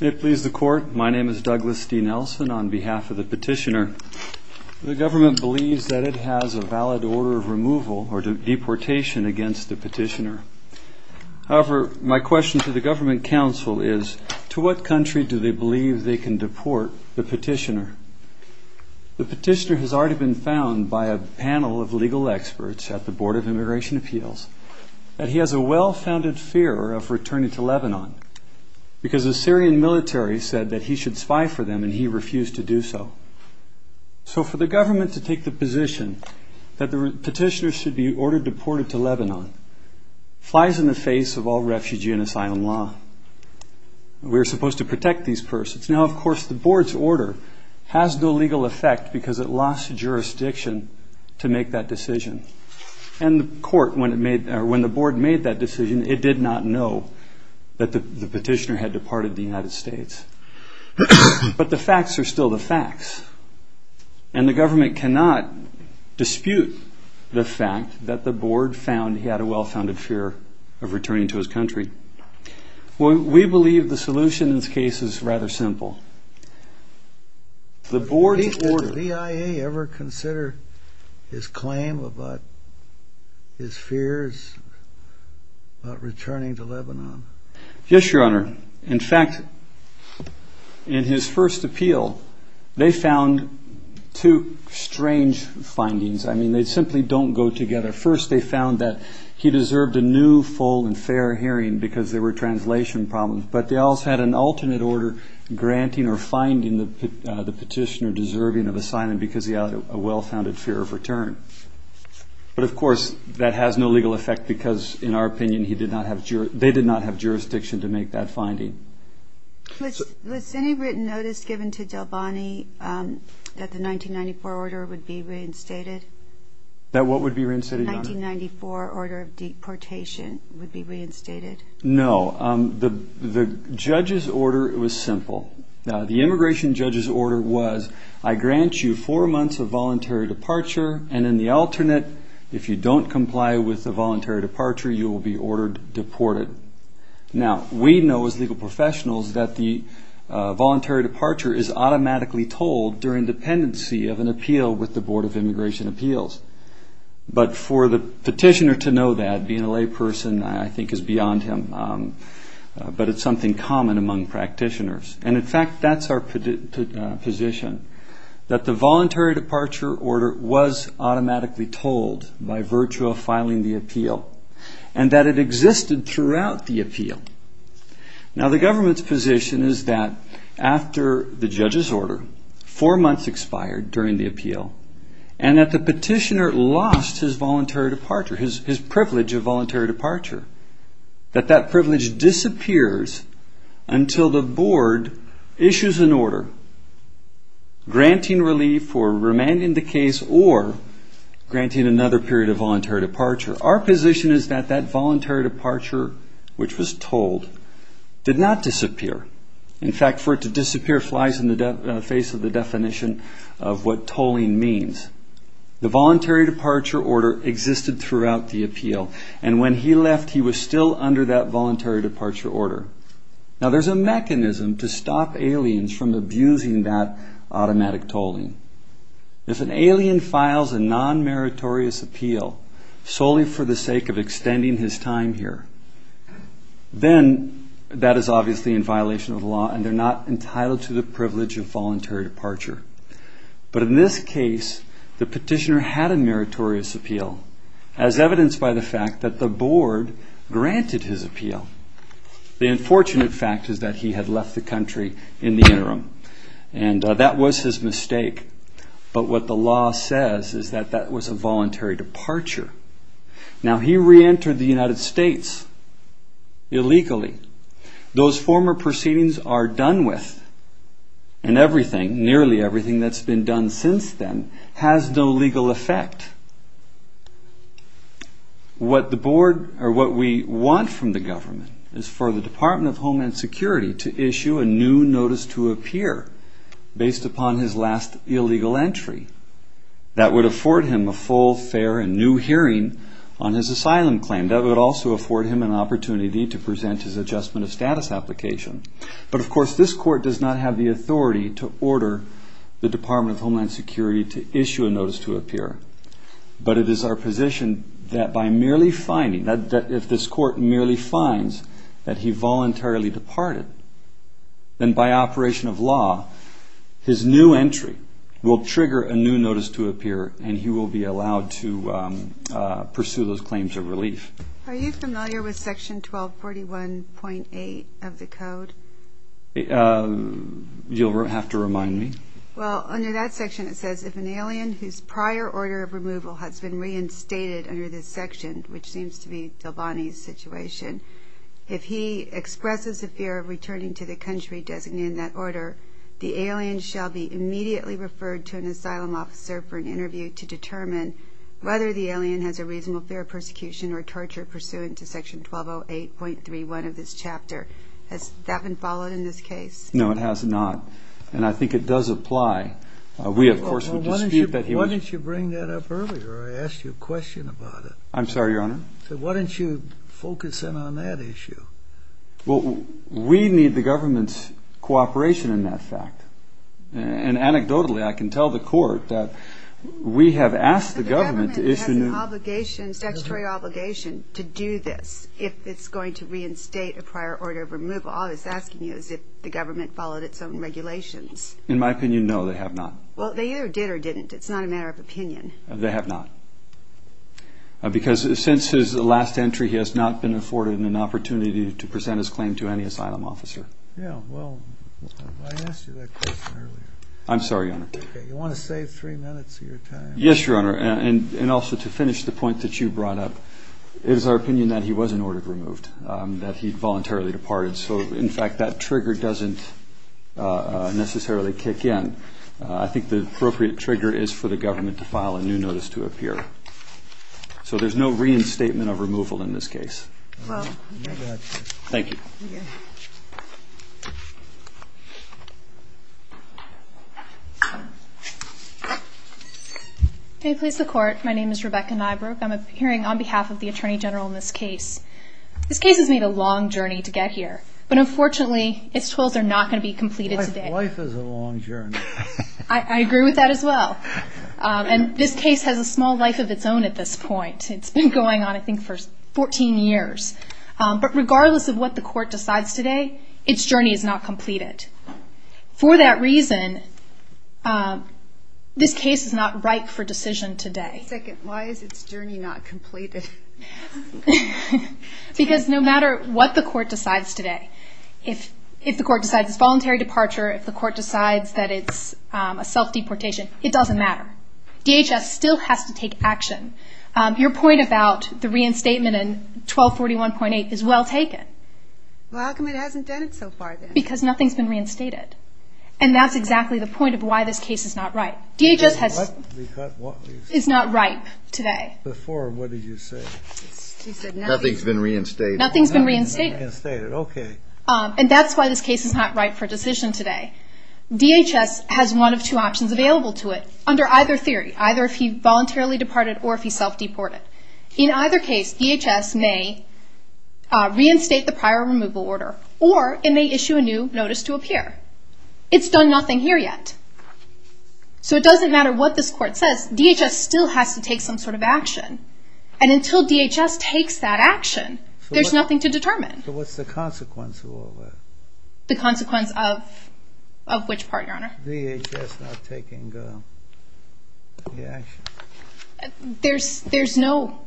May it please the Court, my name is Douglas D. Nelson on behalf of the Petitioner for the Government Council, and my question to the Government Council is, to what country do they believe they can deport the Petitioner? The Petitioner has already been found by a panel of legal experts at the Board of Immigration Appeals, that he has a well-founded fear of returning to Lebanon, because the Syrian military said that he should spy for them and he refused to do so. So for the Government to take the position that the Petitioner should be ordered deported to Lebanon, flies in the face of all refugee and asylum law. We are supposed to protect these persons. Now of course the Board's order has no legal effect because it lost jurisdiction to make that decision, and when the Board made that decision it did not know that the Petitioner had departed the United States. But the facts are still the facts, and the Government cannot dispute the fact that the Board found he had a well-founded fear of returning to his country. We believe the solution in this case is rather simple. The Board's order... Did the VIA ever consider his claim about his fears about returning to Lebanon? Yes, Your Honor. In fact, in his first appeal, they found two strange findings. I mean they simply don't go together. First they found that he deserved a new full and fair hearing because there were translation problems, but they also had an alternate order granting or finding the Petitioner deserving of asylum because he had a well-founded fear of return. But of course that has no legal effect because in our opinion they did not have jurisdiction to make that finding. Was any written notice given to Delbany that the 1994 order would be reinstated? That what would be reinstated, Your Honor? The 1994 order of deportation would be reinstated. No. The judge's order was simple. The immigration judge's order was, I grant you four months of voluntary departure, and in the alternate, if you don't comply with the voluntary departure, you will be ordered deported. Now, we know as legal professionals that the voluntary departure is automatically told during dependency of an appeal with the Board of Immigration Appeals. But for the Petitioner to know that, being a layperson, I think is beyond him. But it's something common among practitioners. And in fact, that's our position, that the voluntary departure order was automatically told by virtue of filing the appeal, and that it existed throughout the appeal. Now the government's position is that after the judge's order, four months expired during the appeal, and that the Petitioner lost his voluntary departure, his privilege of voluntary departure, that that privilege disappears until the Board issues an order granting relief for remaining in the case or granting another period of voluntary departure. Our position is that that voluntary departure, which was told, did not disappear. In fact, for it to disappear flies in the face of the definition of what tolling means. The voluntary departure order existed throughout the appeal. And when he left, he was still under that voluntary tolling. If an alien files a non-meritorious appeal solely for the sake of extending his time here, then that is obviously in violation of the law, and they're not entitled to the privilege of voluntary departure. But in this case, the Petitioner had a meritorious appeal, as evidenced by the fact that the Board granted his appeal. The unfortunate fact is that he had left the country in the interim, and that was his mistake. But what the law says is that that was a voluntary departure. Now he re-entered the United States illegally. Those former proceedings are done with, and everything, nearly everything that's been done since then, has no legal effect. What the Board, or what we want from the government is for the Department of Homeland Security to issue a new notice to appear, based upon his last illegal entry. That would afford him a full, fair, and new hearing on his asylum claim. That would also afford him an opportunity to present his adjustment of status application. But of course, this court does not have the authority to order the Department of Homeland Security to issue a notice to appear. But it is our position that by merely finding, that if this court merely finds that he voluntarily departed, then by operation of law, his new entry will trigger a new notice to appear, and he will be allowed to pursue those claims of relief. Are you familiar with Section 1241.8 of the Code? You'll have to remind me. Well, under that section it says, if an alien whose prior order of removal has been reinstated under this section, which seems to be Del Bonnie's situation, if he expresses a fear of returning to the country designated in that order, the alien shall be immediately referred to an asylum officer for an interview to determine whether the alien has a reasonable fear of persecution or torture pursuant to Section 1208.31 of this chapter. Has that been followed in this case? No, it has not. And I think it does apply. We, of course, would dispute that he was... Why didn't you bring that up earlier? I asked you a question about it. I'm sorry, Your Honor. I said, why didn't you focus in on that issue? Well, we need the government's cooperation in that fact. And anecdotally, I can tell the court that we have asked the government to issue... But the government has an obligation, statutory obligation, to do this, if it's going to reinstate a prior order of removal. All it's asking you is if the government followed its own regulations. In my opinion, no, they have not. Well, they either did or didn't. It's not a matter of opinion. They have not. Because since his last entry, he has not been afforded an opportunity to present his claim to any asylum officer. Yeah, well, I asked you that question earlier. I'm sorry, Your Honor. Okay, you want to save three minutes of your time? Yes, Your Honor. And also, to finish the point that you brought up, it is our opinion that he was an order removed, that he voluntarily departed. So, in fact, that trigger doesn't necessarily kick in. I think the appropriate trigger is for the government to file a new notice to appear. So, there's no reinstatement of removal in this case. Well, you may go ahead, sir. Thank you. May it please the Court, my name is Rebecca Nybrook. I'm appearing on behalf of the Attorney General in this case. This case has made a long journey to get here. But unfortunately, its tools are not going to be completed today. Life is a long journey. I agree with that as well. And this case has a small life of its own at this point. It's been going on, I think, for 14 years. But regardless of what the Court decides today, its journey is not completed. For that reason, this case is not ripe for decision today. Second, why is its journey not completed? Because no matter what the Court decides today, if the Court decides its voluntary departure, if the Court decides that its a self-deportation, it doesn't matter. DHS still has to take action. Your point about the reinstatement in 1241.8 is well taken. Well, how come it hasn't done it so far then? Because nothing's been reinstated. And that's exactly the point of why this case is not ripe. DHS is not ripe today. Before, what did you say? Nothing's been reinstated. Nothing's been reinstated. Okay. And that's why this case is not ripe for decision today. DHS has one of two options available to it under either theory. Either if he voluntarily departed or if he self-deported. In either case, DHS may reinstate the prior removal order or it may issue a new notice to appear. It's done nothing here yet. So it doesn't matter what this Court says. DHS still has to take some sort of action. And until DHS takes that action, there's nothing to determine. So what's the consequence of all that? The consequence of which part, Your Honor? DHS not taking the action. There's no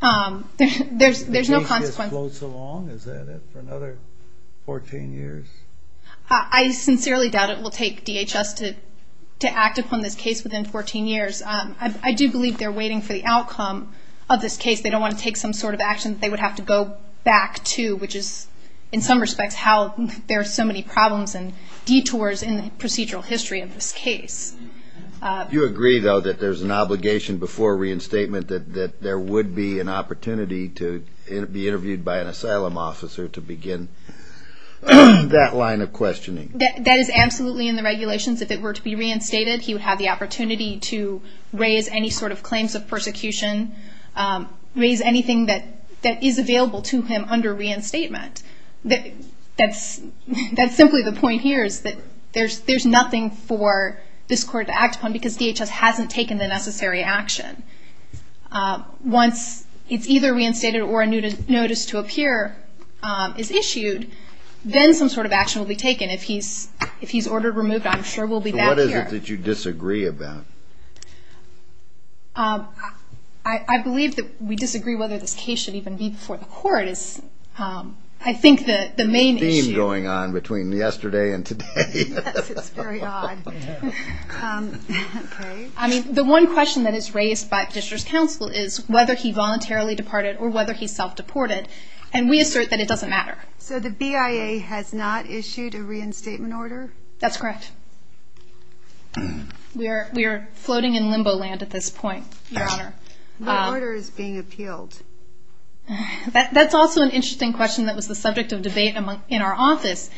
consequence. DHS floats along, is that it, for another 14 years? I sincerely doubt it will take DHS to act upon this case within 14 years. I do believe they're waiting for the outcome of this case. They don't want to take some sort of action they would have to go back to, which is, in some respects, how there are so many problems and detours in the procedural history of this case. Do you agree, though, that there's an obligation before reinstatement that there would be an obligation, that line of questioning? That is absolutely in the regulations. If it were to be reinstated, he would have the opportunity to raise any sort of claims of persecution, raise anything that is available to him under reinstatement. That's simply the point here is that there's nothing for this Court to act upon because DHS hasn't taken the necessary action. Once it's either removed, then some sort of action will be taken. If he's ordered removed, I'm sure we'll be back here. So what is it that you disagree about? I believe that we disagree whether this case should even be before the Court is, I think, the main issue. There's a theme going on between yesterday and today. Yes, it's very odd. I mean, the one question that is raised by Petitioner's Counsel is whether he voluntarily departed or whether he self-deported, and we assert that it doesn't matter. So the BIA has not issued a reinstatement order? That's correct. We are floating in limbo land at this point, Your Honor. What order is being appealed? That's also an interesting question that was the subject of debate in our office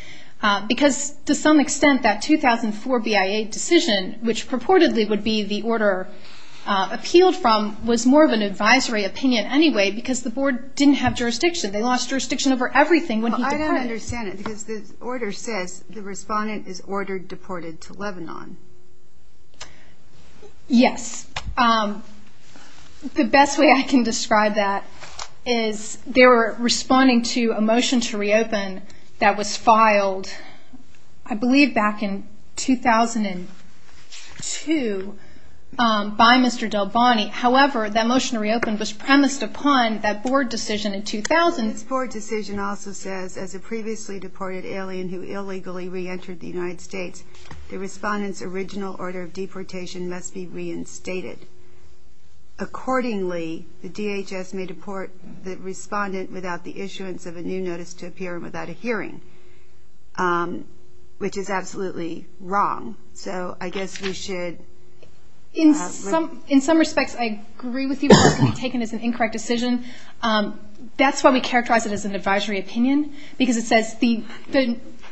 because to some extent that 2004 BIA decision, which purportedly would be the order appealed from, was more of an advisory opinion anyway because the Board didn't have jurisdiction. They lost jurisdiction over everything when he departed. I don't understand it because the order says the respondent is ordered deported to Lebanon. Yes. The best way I can describe that is they were responding to a motion to reopen that was premised upon that Board decision in 2000. This Board decision also says, as a previously deported alien who illegally reentered the United States, the respondent's original order of deportation must be reinstated. Accordingly, the DHS may deport the respondent without the issuance of a new notice to appear and without a hearing, which is absolutely wrong. So I guess we should... In some respects, I agree with you it must be taken as an incorrect decision. That's why we characterize it as an advisory opinion because it says the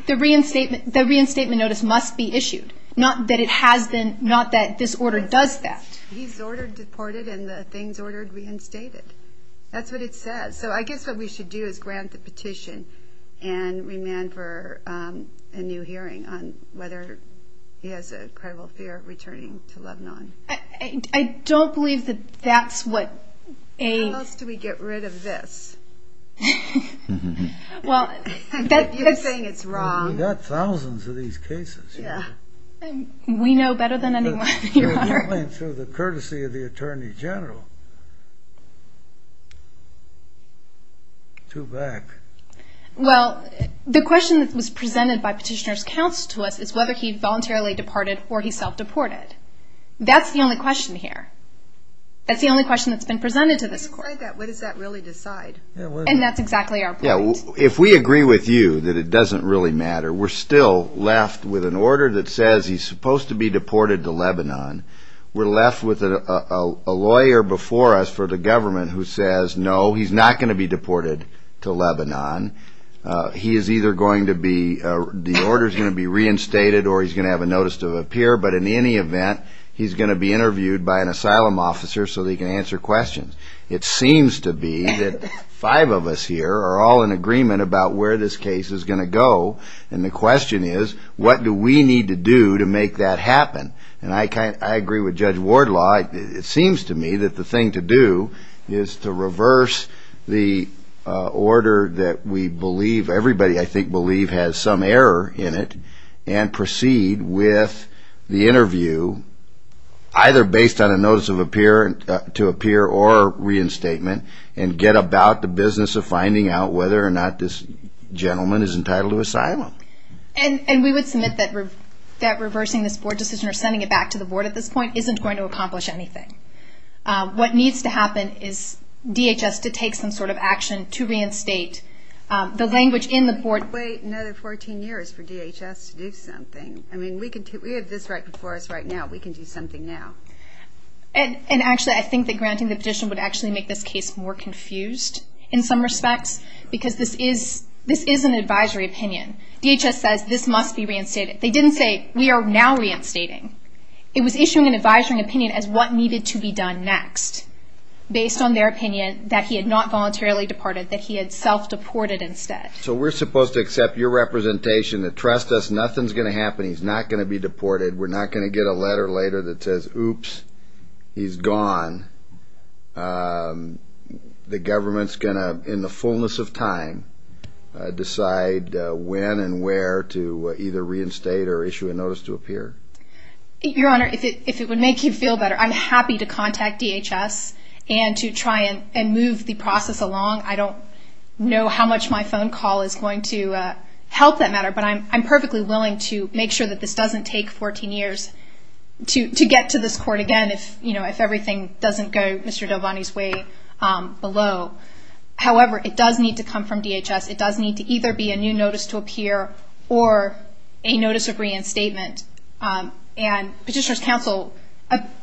reinstatement notice must be issued, not that this order does that. He's ordered deported and the things ordered reinstated. That's what it says. So I guess what we should do is grant the petition and remand for a new hearing on whether he has a credible fear of returning to Lebanon. I don't believe that that's what... How else do we get rid of this? You're saying it's wrong. We've got thousands of these cases. We know better than anyone, Your Honor. Through the courtesy of the Attorney General. Two back. Well, the question that was presented by Petitioner's Counsel to us is whether he voluntarily departed or he self-deported. That's the only question here. That's the only question that's been presented to this Court. What does that really decide? And that's exactly our point. If we agree with you that it doesn't really matter, we're still left with an order that says he's supposed to be deported to Lebanon. We're left with a lawyer before us for the government who says, no, he's not going to be deported to Lebanon. He is either going to be... The order's going to be reinstated or he's going to have a notice to appear. But in any event, he's going to be interviewed by an asylum officer so that he can answer questions. It seems to be that five of us here are all in agreement about where this case is going to go. And the question is, what do we need to do to make that happen? And I agree with Judge Wardlaw. It seems to me that the thing to do is to reverse the order that we believe, everybody I think believe has some error in it, and proceed with the interview either based on a notice to appear or reinstatement and get about the business of finding out whether or not this gentleman is entitled to asylum. And we would submit that reversing this board decision or sending it back to the board at this point isn't going to accomplish anything. What needs to happen is DHS to take some sort of action to reinstate the language in the board. Wait another 14 years for DHS to do something. I mean, we have this right before us right now. We can do something now. And actually, I think that granting the petition would actually make this case more confused in some respects because this is an advisory opinion. DHS says this must be reinstated. They didn't say, we are now reinstating. It was issuing an advisory opinion as what needed to be done next based on their opinion that he had not voluntarily departed, that he had self-deported instead. So we're supposed to accept your representation and trust us nothing's going to happen. He's not going to be deported. We're not going to get a letter later that says, oops, he's gone. The government's going to, in the fullness of time, decide when and where to either reinstate or issue a notice to appear. Your Honor, if it would make you feel better, I'm happy to contact DHS and to try and move the process along. I don't know how much my phone call is going to help that matter, but I'm perfectly willing to make sure that this doesn't take 14 years to get to this court again if everything doesn't go Mr. Delvani's way below. However, it does need to come from DHS. It does need to either be a new notice to appear or a notice of reinstatement. And Petitioner's Counsel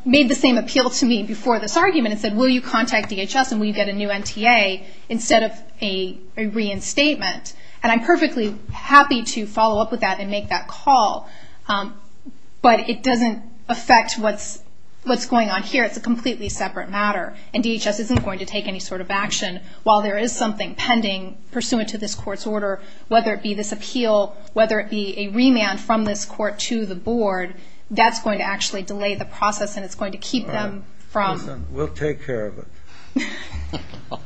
made the same appeal to me before this argument and said, will you contact DHS and will you get a new NTA instead of a reinstatement? And I'm perfectly happy to follow up with that and make that call, but it doesn't affect what's going on here. It's a completely separate matter, and DHS isn't going to take any sort of action. While there is something pending pursuant to this court's order, whether it be this appeal, whether it be a remand from this court to the board, that's going to actually delay the process and it's going to keep them from- Listen, we'll take care of it.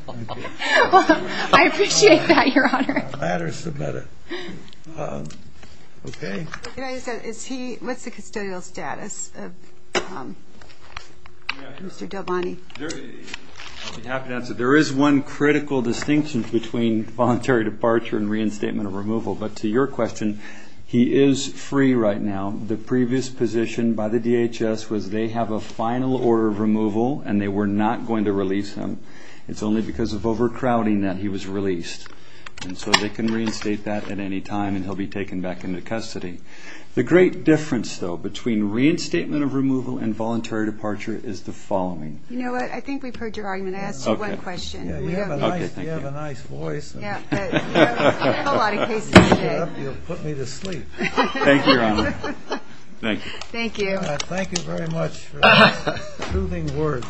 I appreciate that, Your Honor. The matter's submitted. Okay. What's the custodial status of Mr. Delvani? I'll be happy to answer. There is one critical distinction between voluntary departure and reinstatement or removal, but to your question, he is free right now. The previous position by the DHS was they have a final order of removal and they were not going to release him. It's only because of overcrowding that he was released, and so they can reinstate that at any time and he'll be taken back into custody. The great difference, though, between reinstatement of removal and voluntary departure is the following. You know what? I think we've heard your argument. I asked you one question. You have a nice voice. We have a lot of cases today. You'll put me to sleep. Thank you, Your Honor. Thank you. Thank you. Thank you very much for those soothing words.